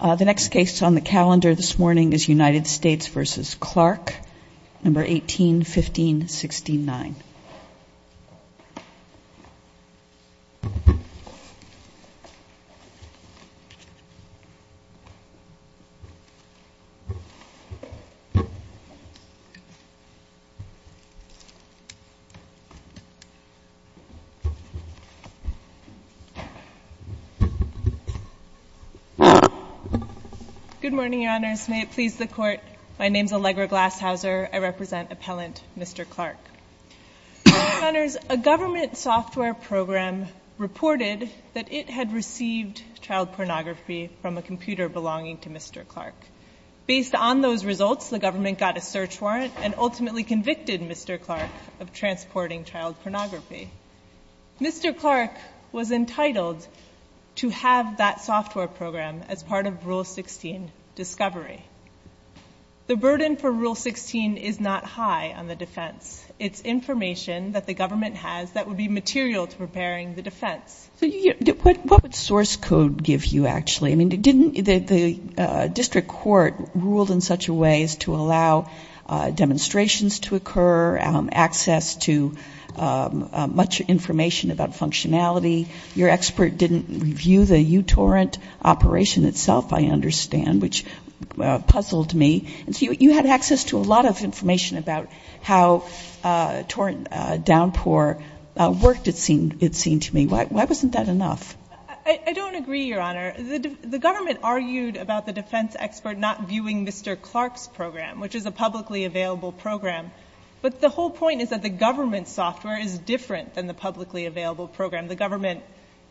The next case on the calendar this morning is United States v. Clark, No. 18-15-69. Good morning, Your Honors. May it please the Court, my name is Allegra Glashauser. I represent Appellant Mr. Clark. Your Honors, a government software program reported that it had received child pornography from a computer belonging to Mr. Clark. Based on those results, the government got a search warrant and ultimately convicted Mr. Clark of transporting child pornography. The government was unable to find the source of the discovery. The burden for Rule 16 is not high on the defense. It's information that the government has that would be material to preparing the defense. What would source code give you, actually? I mean, didn't the district court rule in such a way as to allow demonstrations to occur, access to much information about functionality? Your expert didn't review the uTorrent operation itself, I understand, which puzzled me. You had access to a lot of information about how torrent downpour worked, it seemed to me. Why wasn't that enough? I don't agree, Your Honor. The government argued about the defense expert not viewing Mr. Clark's program, which is a publicly available program. But the whole point is that the government software is different than the publicly available program. The government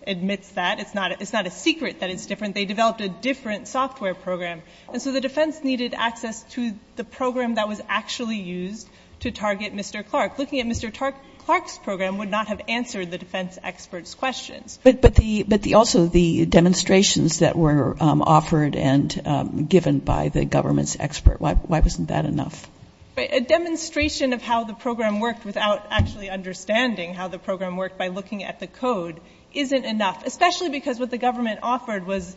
admits that. It's not a secret that it's different. They developed a different software program. And so the defense needed access to the program that was actually used to target Mr. Clark. Looking at Mr. Clark's program would not have answered the defense expert's questions. But also the demonstrations that were offered and given by the government's expert, why wasn't that enough? A demonstration of how the program worked without actually understanding how the program worked by looking at the code isn't enough, especially because what the government offered was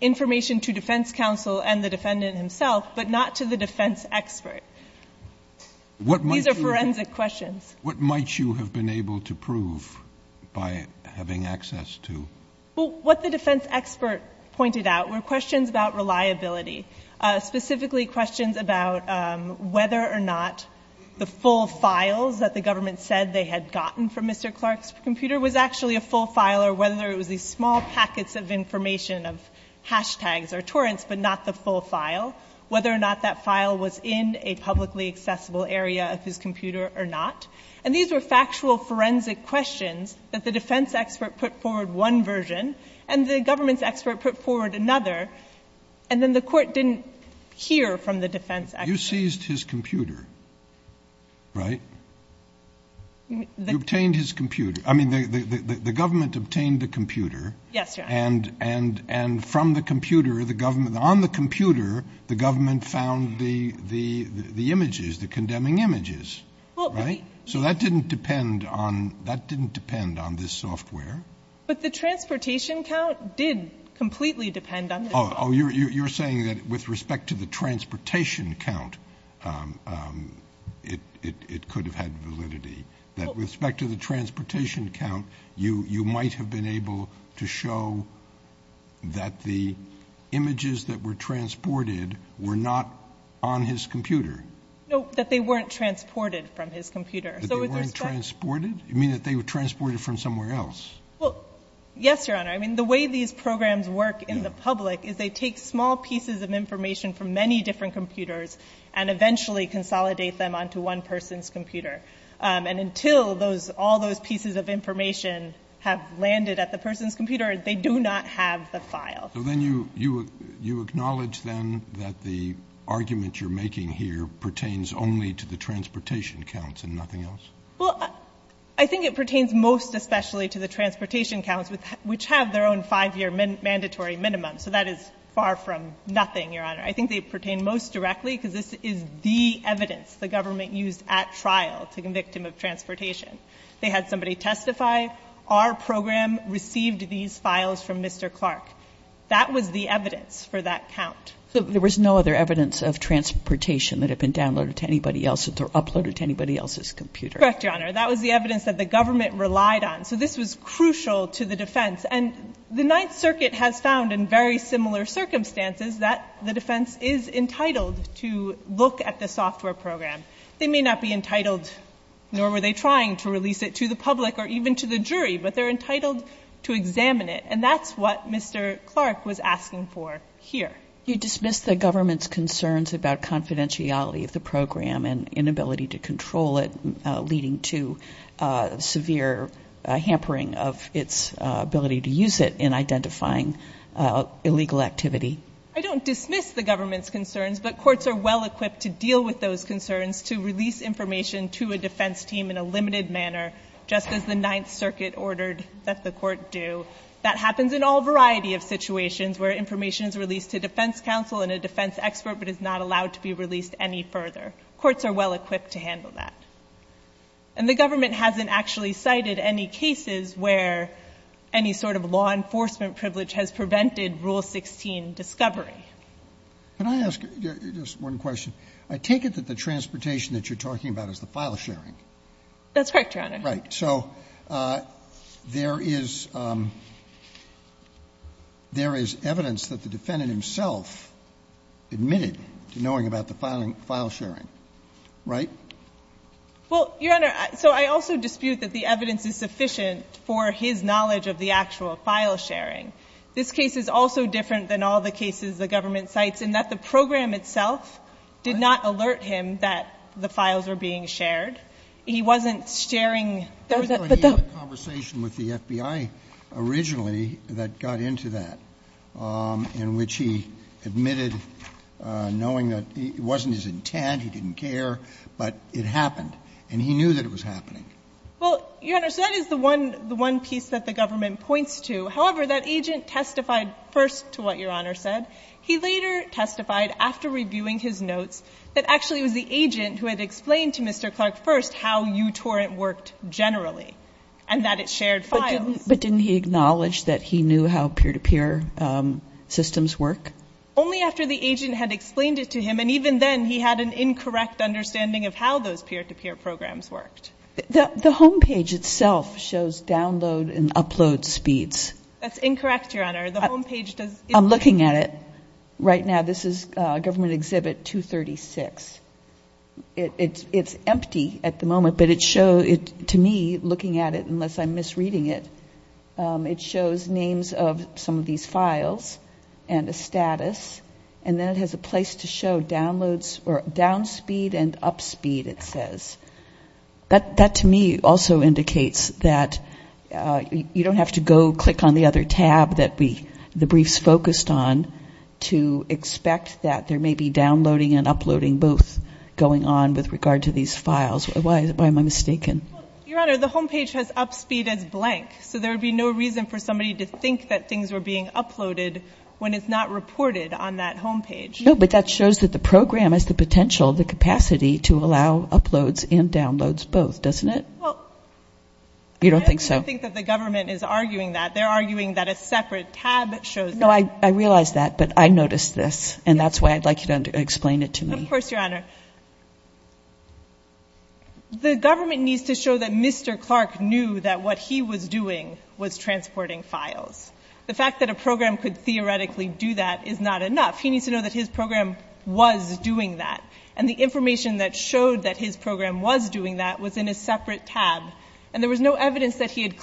information to defense counsel and the defendant himself, but not to the defense expert. These are forensic questions. What might you have been able to prove by having access to? What the defense expert pointed out were questions about reliability, specifically questions about whether or not the full files that the government said they had gotten from Mr. Clark's computer was actually a full file or whether it was these small packets of information of hashtags or torrents, but not the full file, whether or not that file was in a publicly accessible area of his computer or not. And these were factual forensic questions that the defense expert put forward one version and the government's expert put forward another. And then the court didn't hear from the defense expert. You seized his computer, right? You obtained his computer. I mean, the government obtained the computer and from the computer, on the computer, the government found the images, the condemning images, right? So that didn't depend on this software. But the transportation count did completely depend on this software. Oh, you're saying that with respect to the transportation count, it could have had validity, that with respect to the transportation count, you might have been able to show that the images that were transported were not on his computer? No, that they weren't transported from his computer. That they weren't transported? You mean that they were transported from somewhere else? Well, yes, Your Honor. I mean, the way these programs work in the public is they take small pieces of information from many different computers and eventually consolidate them onto one person's computer. And until all those pieces of information have landed at the person's computer, they do not have the file. So then you acknowledge then that the argument you're making here pertains only to the transportation counts and nothing else? Well, I think it pertains most especially to the transportation counts, which have their own five-year mandatory minimum. So that is far from nothing, Your Honor. I think they pertain most directly because this is the evidence the government used at trial to convict him of transportation. They had somebody testify, our program received these files from Mr. Clark. That was the evidence for that count. So there was no other evidence of transportation that had been downloaded to anybody else that or uploaded to anybody else's computer? Correct, Your Honor. That was the evidence that the government relied on. So this was crucial to the defense. And the Ninth Circuit has found in very similar circumstances that the defense is entitled to look at the software program. They may not be entitled, nor were they trying to release it to the public or even to the jury, but they're entitled to examine it. And that's what Mr. Clark was asking for here. You dismiss the government's concerns about confidentiality of the program and inability to control it, leading to severe hampering of its ability to use it in identifying illegal activity. I don't dismiss the government's concerns, but courts are well-equipped to deal with those concerns, to release information to a defense team in a limited manner, just as the Ninth Circuit ordered that the court do. That happens in all variety of situations where information is released to defense counsel and a defense expert but is not allowed to be released any further. Courts are well-equipped to handle that. And the government hasn't actually cited any cases where any sort of law enforcement privilege has prevented Rule 16 discovery. Can I ask just one question? I take it that the transportation that you're talking about That's correct, Your Honor. So there is evidence that the defendant himself admitted to knowing about the file-sharing, right? Well, Your Honor, so I also dispute that the evidence is sufficient for his knowledge of the actual file-sharing. This case is also different than all the cases the government cites in that the program itself did not alert him that the files were being shared. He wasn't sharing. There was a conversation with the FBI originally that got into that, in which he admitted knowing that it wasn't his intent, he didn't care, but it happened, and he knew that it was happening. Well, Your Honor, so that is the one piece that the government points to. However, that agent testified first to what Your Honor said. He later testified after reviewing his notes that actually it was the agent who had explained to Mr. Clark first how uTorrent worked generally and that it shared files. But didn't he acknowledge that he knew how peer-to-peer systems work? Only after the agent had explained it to him, and even then he had an incorrect understanding of how those peer-to-peer programs worked. The homepage itself shows download and upload speeds. That's incorrect, Your Honor. The homepage does I'm looking at it right now. This is Government Exhibit 236. It's empty at the moment, but to me, looking at it, unless I'm misreading it, it shows names of some of these files and a status, and then it has a place to show downloads or down speed and up speed, it says. That to me also indicates that you don't have to go click on the other tab that the briefs focused on to expect that there may be downloading and uploading both going on with regard to these files. Why am I mistaken? Your Honor, the homepage has up speed as blank, so there would be no reason for somebody to think that things were being uploaded when it's not reported on that homepage. No, but that shows that the program has the potential, the capacity to allow uploads and downloads both, doesn't it? You don't think so? I don't think that the government is arguing that. They're arguing that a separate tab shows that. No, I realize that, but I noticed this, and that's why I'd like you to explain it to me. Of course, Your Honor. The government needs to show that Mr. Clark knew that what he was doing was transporting files. The fact that a program could theoretically do that is not enough. He needs to know that his program was doing that, and the information that showed that his program was doing that was in a separate tab, and there was no evidence that he had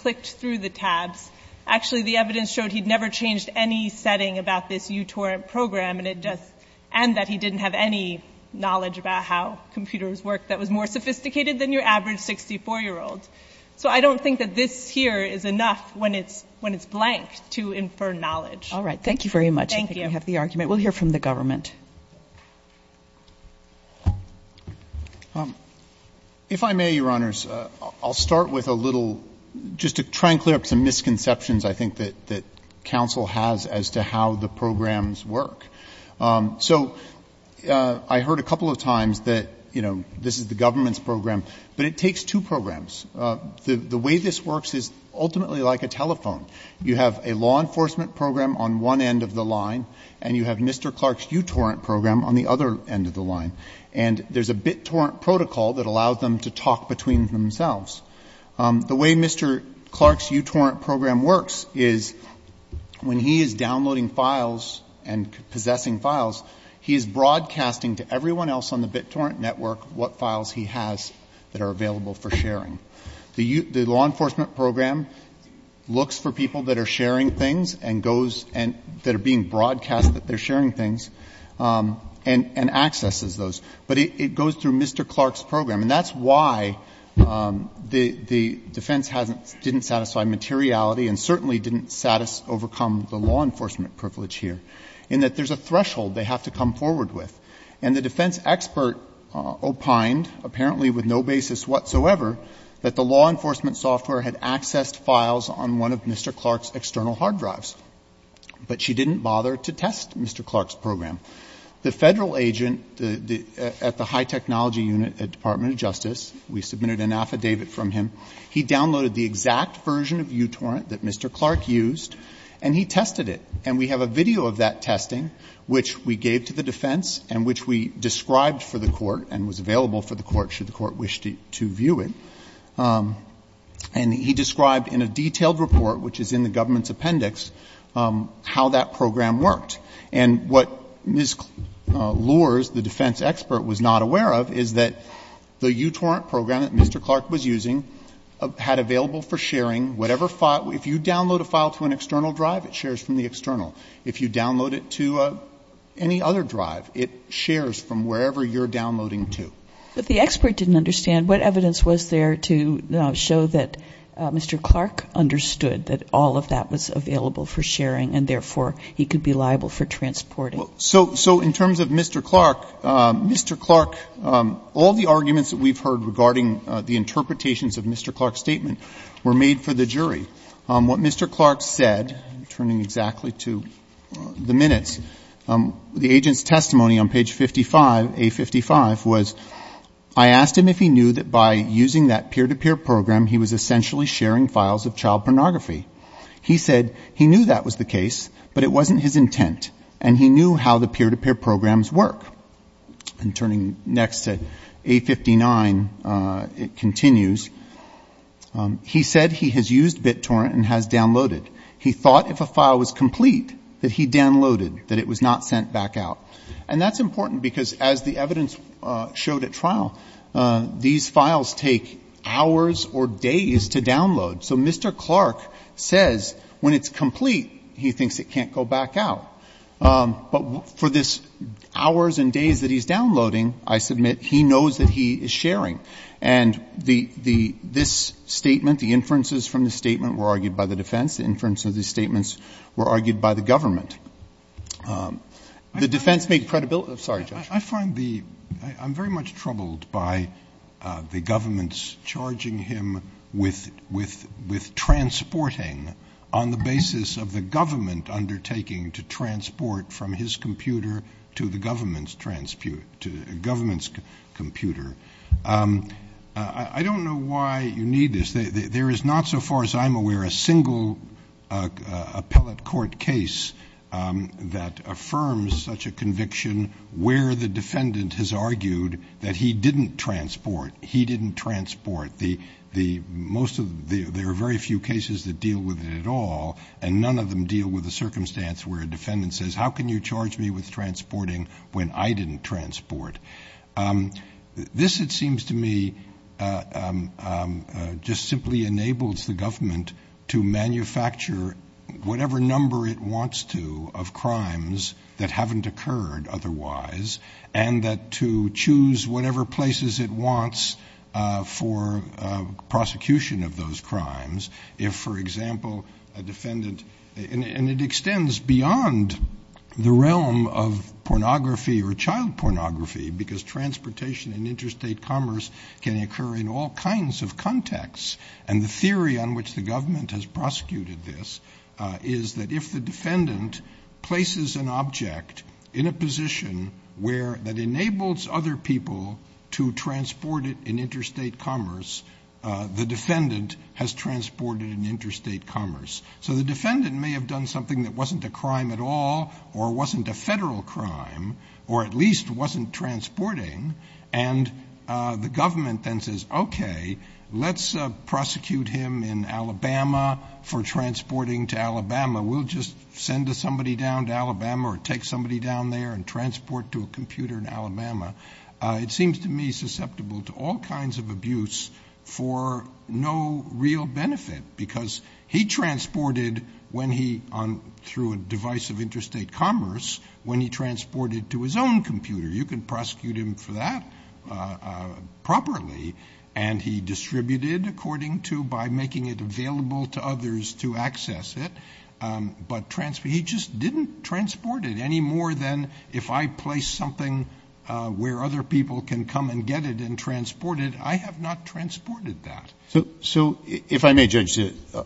changed any setting about this uTorrent program, and it just, and that he didn't have any knowledge about how computers work that was more sophisticated than your average 64-year-old. So I don't think that this here is enough when it's blank to infer knowledge. All right. Thank you very much. Thank you. I think we have the argument. We'll hear from the government. If I may, Your Honors, I'll start with a little, just to try and clear up some misconceptions I think that counsel has as to how the programs work. So I heard a couple of times that, you know, this is the government's program, but it takes two programs. The way this works is ultimately like a telephone. You have a law enforcement program on one end of the line, and you have Mr. Clark's uTorrent program on the other end of the line, and there's a BitTorrent protocol that allows them to talk between themselves. The way Mr. Clark's uTorrent program works is when he is downloading files and possessing files, he is broadcasting to everyone else on the BitTorrent network what files he has that are available for sharing. The law enforcement program looks for people that are sharing things and goes, that are being broadcast that they're sharing things, and accesses those. But it goes through Mr. Clark's program, and that's why the defense hasn't, didn't satisfy materiality and certainly didn't overcome the law enforcement privilege here, in that there's a threshold they have to come forward with. And the defense expert opined, apparently with no basis whatsoever, that the law enforcement software had accessed files on one of Mr. Clark's external hard drives, but she didn't bother to test Mr. Clark's program. The federal agent at the high technology unit at Department of Justice, we submitted an affidavit from him, he downloaded the exact version of uTorrent that Mr. Clark used, and he tested it. And we have a video of that testing, which we gave to the defense and which we described for the court and was available for the court, should the court wish to view it. And he described in a detailed report, which is in the government's And what Ms. Lors, the defense expert, was not aware of is that the uTorrent program that Mr. Clark was using had available for sharing whatever file, if you download a file to an external drive, it shares from the external. If you download it to any other drive, it shares from wherever you're downloading to. But the expert didn't understand what evidence was there to show that Mr. Clark understood that all of that was available for sharing and therefore he could be liable for transporting. So in terms of Mr. Clark, Mr. Clark, all the arguments that we've heard regarding the interpretations of Mr. Clark's statement were made for the jury. What Mr. Clark said, turning exactly to the minutes, the agent's testimony on page 55, A55, was, I asked him if he knew that by using that peer-to-peer program, he was essentially sharing files of child pornography. He said he knew that was the case, but it wasn't his intent. And he knew how the peer-to-peer programs work. And turning next to A59, it continues, he said he has used BitTorrent and has downloaded. He thought if a file was complete, that he downloaded, that it was not sent back out. And that's important because as the evidence showed at trial, these files take hours or days to download. So Mr. Clark says when it's complete, he thinks it can't go back out. But for this hours and days that he's downloading, I submit, he knows that he is sharing. And this statement, the inferences from the statement were argued by the defense. The inferences of the statements were argued by the government. The defense made credibility, sorry, Judge. I find the, I'm very much troubled by the government's charging him with, with, with transporting on the basis of the government undertaking to transport from his computer to the government's computer. I don't know why you need this. There is not, so far as I'm aware, a single appellate court case that affirms such a conviction where the defendant has argued that he didn't transport. He didn't transport. The, the most of, there are very few cases that deal with it at all, and none of them deal with the circumstance where a defendant says, how can you charge me with transporting when I didn't transport? This, it seems to me, just simply enables the government to manufacture whatever number it wants to of crimes that haven't occurred otherwise, and that to choose whatever places it wants for prosecution of those crimes. If, for example, a defendant, and it extends beyond the realm of pornography or child pornography, because transportation in interstate commerce can occur in all kinds of contexts, and the theory on which the government has prosecuted this is that if the defendant places an object in a position where, that enables other people to transport it in interstate commerce, the defendant has transported in a crime at all, or wasn't a federal crime, or at least wasn't transporting, and the government then says, okay, let's prosecute him in Alabama for transporting to Alabama. We'll just send somebody down to Alabama, or take somebody down there and transport to a computer in Alabama. It seems to me susceptible to all kinds of abuse for no real benefit, because he transported when he, through a device of interstate commerce, when he transported to his own computer. You can prosecute him for that properly, and he distributed according to, by making it available to others to access it, but he just didn't transport it any more than if I place something where other people can come and get it and transport it, I have not transported that. So if I may, Judge,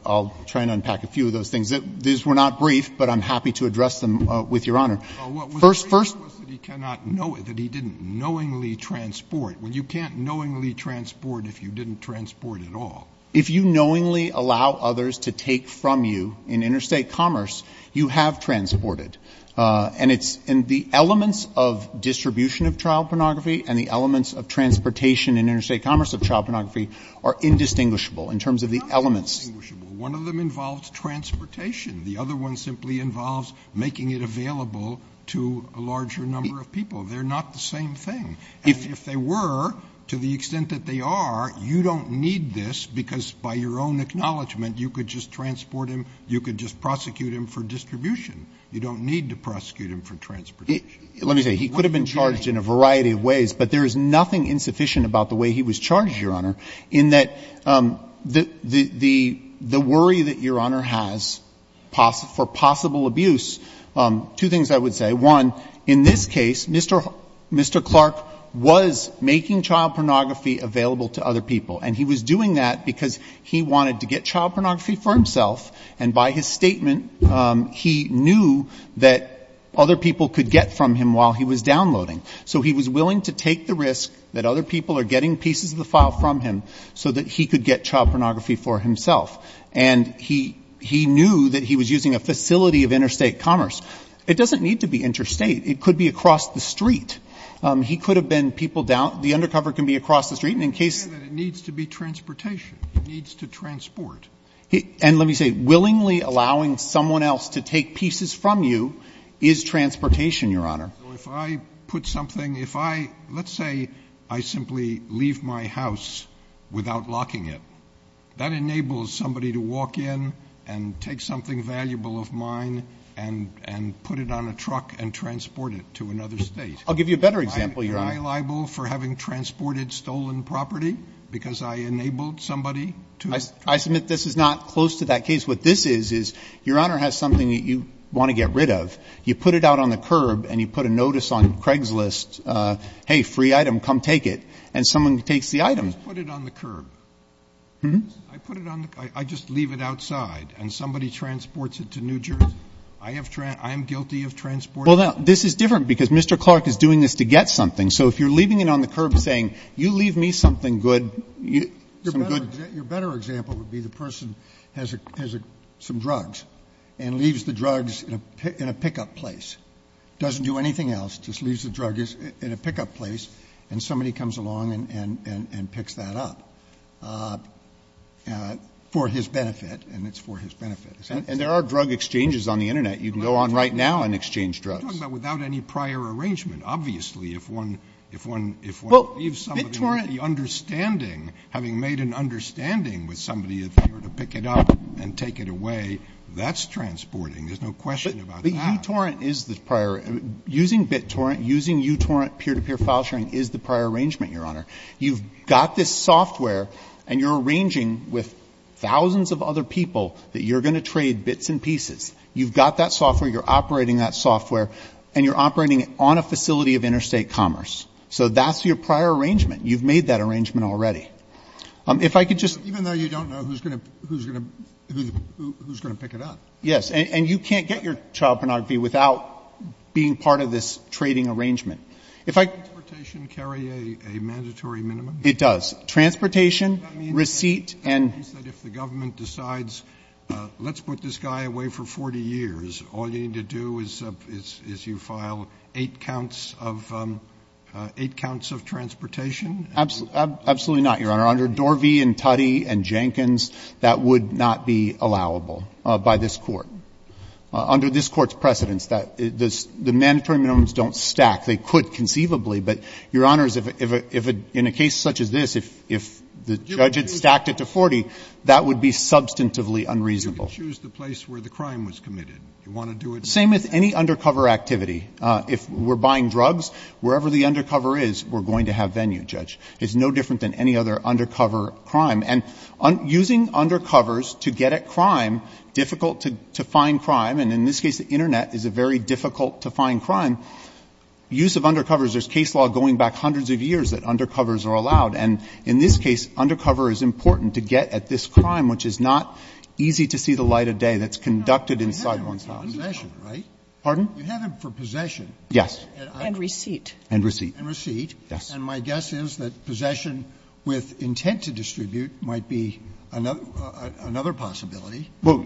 I'll try and unpack a few of those things. These were not brief, but I'm happy to address them with Your Honor. Well, what was brief was that he cannot know it, that he didn't knowingly transport. Well, you can't knowingly transport if you didn't transport at all. If you knowingly allow others to take from you in interstate commerce, you have transported. And the elements of distribution of child pornography and the elements of transportation in interstate commerce of child pornography are indistinguishable in terms of the elements. Not indistinguishable. One of them involves transportation. The other one simply involves making it available to a larger number of people. They're not the same thing. And if they were, to the extent that they are, you don't need this, because by your own acknowledgment you could just transport him, you could just prosecute him for distribution. You don't need to prosecute him for transportation. Let me say, he could have been charged in a variety of ways, but there is nothing insufficient about the way he was charged, Your Honor, in that the worry that Your Honor has for possible abuse, two things I would say. One, in this case, Mr. Clark was making child pornography available to other people. And he was doing that because he wanted to get child pornography for himself. And by his statement, he knew that other people could get from him while he was downloading. So he was willing to take the risk that other people are getting pieces of the file from him so that he could get child pornography for himself. And he knew that he was using a facility of interstate commerce. It doesn't need to be interstate. It could be across the street. He could have been people down — the undercover can be across the street. And in case — But it needs to be transportation. It needs to transport. And let me say, willingly allowing someone else to take pieces from you is transportation, Your Honor. So if I put something — if I — let's say I simply leave my house without locking it. That enables somebody to walk in and take something valuable of mine and put it on a truck and transport it to another State. I'll give you a better example, Your Honor. Am I liable for having transported stolen property because I enabled somebody to — I submit this is not close to that case. What this is, is Your Honor has something that you want to get rid of. You put it out on the curb and you put a notice on Craigslist, hey, free item, come take it. And someone takes the item. I just put it on the curb. Hmm? I put it on the — I just leave it outside. And somebody transports it to New Jersey. I have — I am guilty of transporting — Well, now, this is different because Mr. Clark is doing this to get something. So if you're leaving it on the curb saying, you leave me something good — Your better example would be the person has some drugs and leaves the drugs in a pickup place, doesn't do anything else, just leaves the drugs in a pickup place, and somebody comes along and picks that up for his benefit, and it's for his benefit. And there are drug exchanges on the Internet. You can go on right now and exchange drugs. I'm talking about without any prior arrangement. Obviously, if one — if one leaves somebody understanding, having made an understanding with somebody, if they were to pick it up and take it away, that's transporting. There's no question about that. But U-Torrent is the prior — using BitTorrent, using U-Torrent peer-to-peer file sharing is the prior arrangement, Your Honor. You've got this software, and you're arranging with thousands of other people that you're going to trade bits and pieces. You've got that software. You're operating that software. And you're operating it on a facility of interstate commerce. So that's your prior arrangement. You've made that arrangement already. If I could just — Even though you don't know who's going to — who's going to pick it up. Yes. And you can't get your child pornography without being part of this trading arrangement. Does transportation carry a mandatory minimum? It does. Transportation, receipt, and — Does that mean that if the government decides, let's put this guy away for 40 years, all you need to do is you file eight counts of — eight counts of transportation? Absolutely not, Your Honor. Under Dorvey and Tuddy and Jenkins, that would not be allowable by this Court. Under this Court's precedents, the mandatory minimums don't stack. They could conceivably, but, Your Honors, if in a case such as this, if the judge had stacked it to 40, that would be substantively unreasonable. You could choose the place where the crime was committed. You want to do it — Same with any undercover activity. If we're buying drugs, wherever the undercover is, we're going to have venue, Judge. It's no different than any other undercover crime. And using undercovers to get at crime, difficult to find crime, and in this case, the Internet is a very difficult-to-find crime. Use of undercovers — there's case law going back hundreds of years that undercovers are allowed. And in this case, undercover is important to get at this crime, which is not easy to see the light of day that's conducted inside one's house. No, but you have it for possession, right? Pardon? You have it for possession. Yes. And receipt. And receipt. And receipt. Yes. And my guess is that possession with intent to distribute might be another possibility. Well,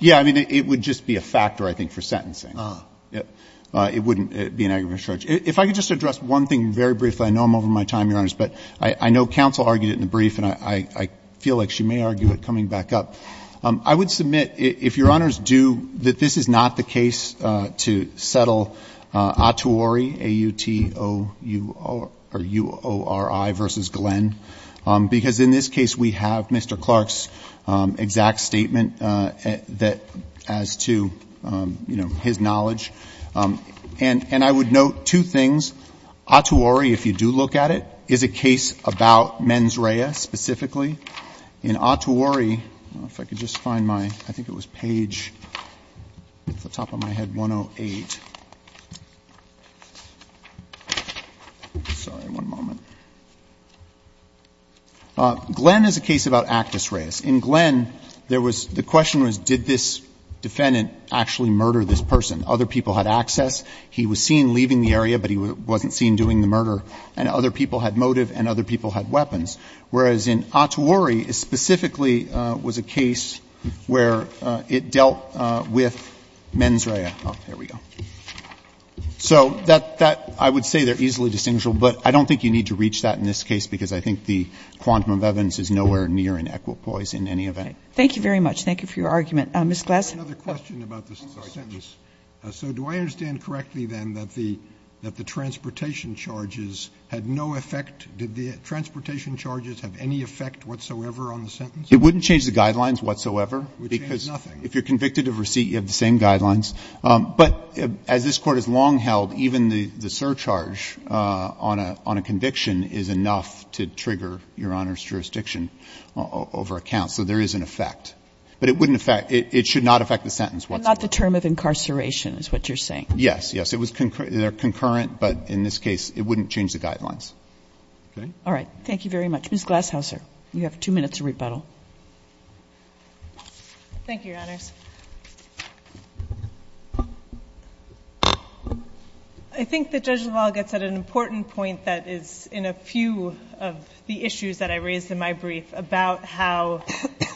yeah. I mean, it would just be a factor, I think, for sentencing. Ah. It wouldn't be an aggravated charge. If I could just address one thing very briefly. I know I'm over my time, Your Honors, but I know counsel argued it in the brief, and I feel like she may argue it coming back up. I would submit, if Your Honors do, that this is not the case to settle Ottuori, A-U-T-O-U-R-I versus Glenn, because in this case, we have Mr. Clark's exact statement that — as to, you know, his case, if you do look at it, is a case about mens rea, specifically, in Ottuori. I don't know if I could just find my — I think it was page, off the top of my head, 108. Sorry, one moment. Glenn is a case about actus reas. In Glenn, there was — the question was, did this defendant actually murder this person? Other people had access. He was seen leaving the area, but he wasn't seen doing the murder. And other people had motive, and other people had weapons. Whereas in Ottuori, it specifically was a case where it dealt with mens rea. Oh, there we go. So that — I would say they're easily distinguishable, but I don't think you need to reach that in this case, because I think the quantum of evidence is nowhere near in equipoise in any event. Thank you very much. Thank you for your argument. Mr. Glass. I have another question about the sentence. So do I understand correctly, then, that the transportation charges had no effect — did the transportation charges have any effect whatsoever on the sentence? It wouldn't change the guidelines whatsoever. It would change nothing. Because if you're convicted of receipt, you have the same guidelines. But as this Court has long held, even the surcharge on a conviction is enough to trigger your Honor's jurisdiction over a count. So there is an effect. But it wouldn't affect — it should not affect the sentence whatsoever. But not the term of incarceration is what you're saying. Yes. Yes. It was — they're concurrent, but in this case, it wouldn't change the guidelines. Okay? All right. Thank you very much. Ms. Glashauser, you have two minutes to rebuttal. Thank you, Your Honors. I think that Judge LaValle gets at an important point that is in a few of the issues that I raised in my brief about how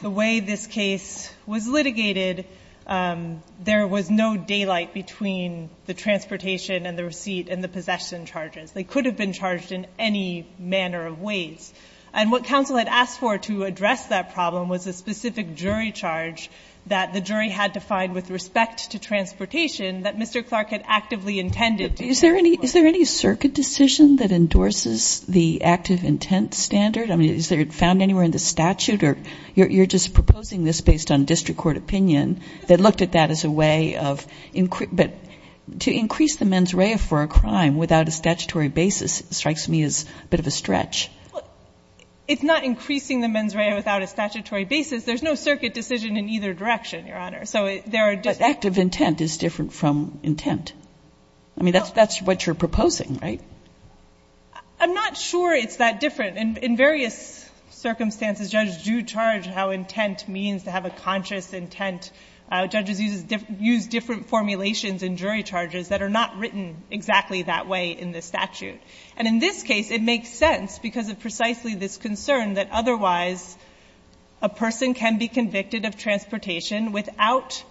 the way this case was litigated, there was no daylight between the transportation and the receipt and the possession charges. They could have been charged in any manner of ways. And what counsel had asked for to address that problem was a specific jury charge that the jury had to find with respect to transportation that Mr. Clark had actively intended. Is there any circuit decision that endorses the active intent standard? I mean, is it found anywhere in the statute? Or you're just proposing this based on district court opinion that looked at that as a way of — but to increase the mens rea for a crime without a statutory basis strikes me as a bit of a stretch. It's not increasing the mens rea without a statutory basis. There's no circuit decision in either direction, Your Honor. But active intent is different from intent. I mean, that's what you're proposing, right? I'm not sure it's that different. In various circumstances, judges do charge how intent means to have a conscious intent. Judges use different formulations in jury charges that are not written exactly that way in the statute. And in this case, it makes sense because of precisely this concern that otherwise a person can be convicted of transportation without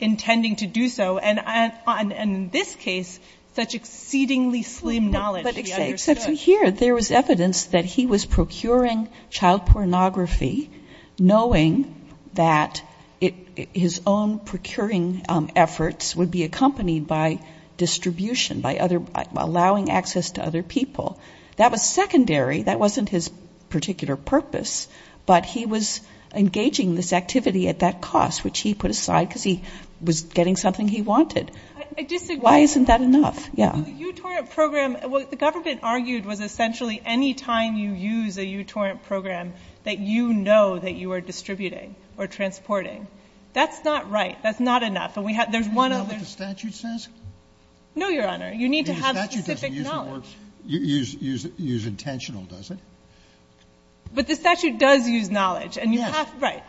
intending to do so. And in this case, such exceedingly slim knowledge. But here, there was evidence that he was procuring child pornography, knowing that his own procuring efforts would be accompanied by distribution, by allowing access to other people. That was secondary. That wasn't his particular purpose. But he was engaging this activity at that cost, which he put aside because he was getting something he wanted. I disagree. Why isn't that enough? Yeah. The U-Torrent program, what the government argued was essentially any time you use a U-Torrent program, that you know that you are distributing or transporting. That's not right. That's not enough. And we have one other. Do you know what the statute says? No, Your Honor. You need to have specific knowledge. The statute doesn't use the words, use intentional, does it? But the statute does use knowledge. Yes. Right.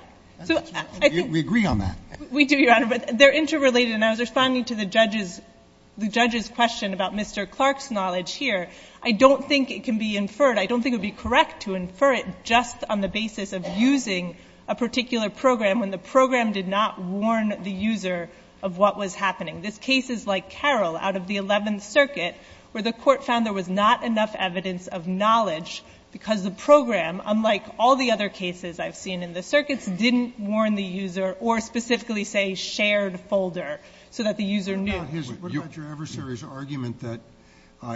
We agree on that. We do, Your Honor. But they're interrelated. And I was responding to the judge's question about Mr. Clark's knowledge here. I don't think it can be inferred. I don't think it would be correct to infer it just on the basis of using a particular program when the program did not warn the user of what was happening. This case is like Carroll out of the Eleventh Circuit, where the court found there was not enough evidence of knowledge because the program, unlike all the other cases I've seen in the circuits, didn't warn the user or specifically say shared folder so that the user knew. But what about your adversary's argument that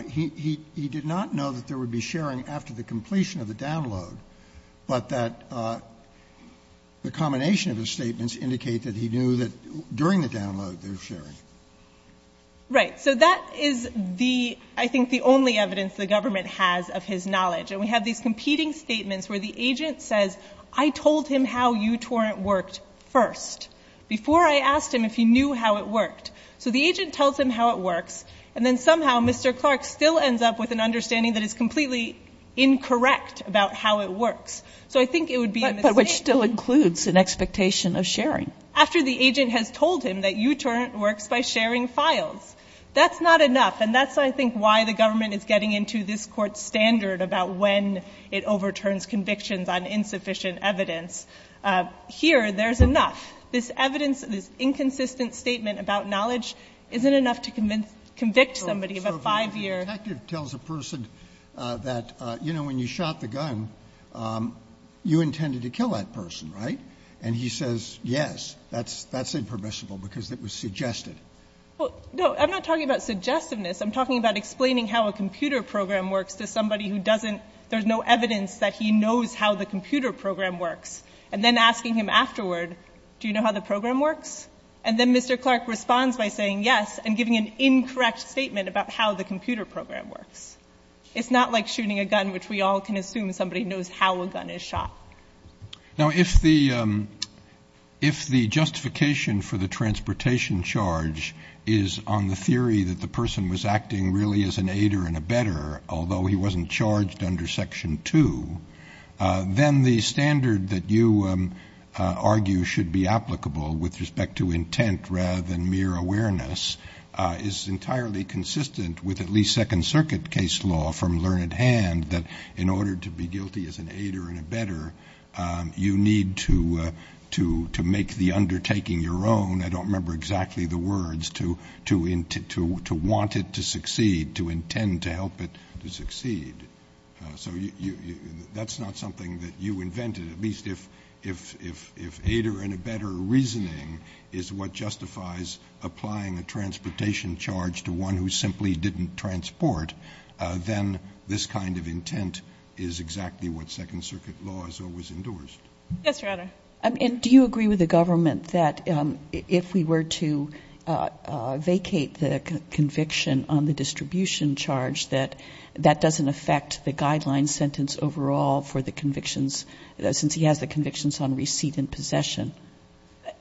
he did not know that there would be sharing after the completion of the download, but that the combination of his statements indicate that he knew that during the download there was sharing? Right. So that is the, I think, the only evidence the government has of his knowledge. And we have these competing statements where the agent says, I told him how uTorrent worked first before I asked him if he knew how it worked. So the agent tells him how it works, and then somehow Mr. Clark still ends up with an understanding that is completely incorrect about how it works. So I think it would be a mistake. But which still includes an expectation of sharing. After the agent has told him that uTorrent works by sharing files. That's not enough. And that's, I think, why the government is getting into this court's standard about when it overturns convictions on insufficient evidence. Here, there's enough. This evidence, this inconsistent statement about knowledge isn't enough to convict somebody of a five-year. So if a detective tells a person that, you know, when you shot the gun, you intended to kill that person, right? And he says, yes, that's impermissible because it was suggested. No, I'm not talking about suggestiveness. I'm talking about explaining how a computer program works to somebody who doesn't there's no evidence that he knows how the computer program works. And then asking him afterward, do you know how the program works? And then Mr. Clark responds by saying yes and giving an incorrect statement about how the computer program works. It's not like shooting a gun, which we all can assume somebody knows how a gun is shot. Now, if the justification for the transportation charge is on the theory that the person was acting really as an aider and abetter, although he wasn't charged under Section 2, then the standard that you argue should be applicable with respect to intent rather than mere awareness is entirely consistent with at least Second Circuit law. You need to make the undertaking your own. I don't remember exactly the words. To want it to succeed, to intend to help it to succeed. So that's not something that you invented. At least if aider and abetter reasoning is what justifies applying a transportation charge to one who simply didn't transport, then this kind of intent is exactly what Yes, Your Honor. And do you agree with the government that if we were to vacate the conviction on the distribution charge, that that doesn't affect the guideline sentence overall for the convictions, since he has the convictions on receipt and possession?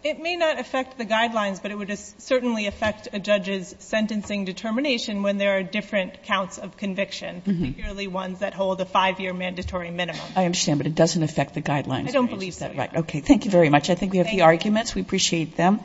It may not affect the guidelines, but it would certainly affect a judge's sentencing determination when there are different counts of conviction, particularly ones that hold a five-year mandatory minimum. I understand, but it doesn't affect the guidelines. I don't believe so, Your Honor. Okay. Thank you very much. I think we have the arguments. We appreciate them.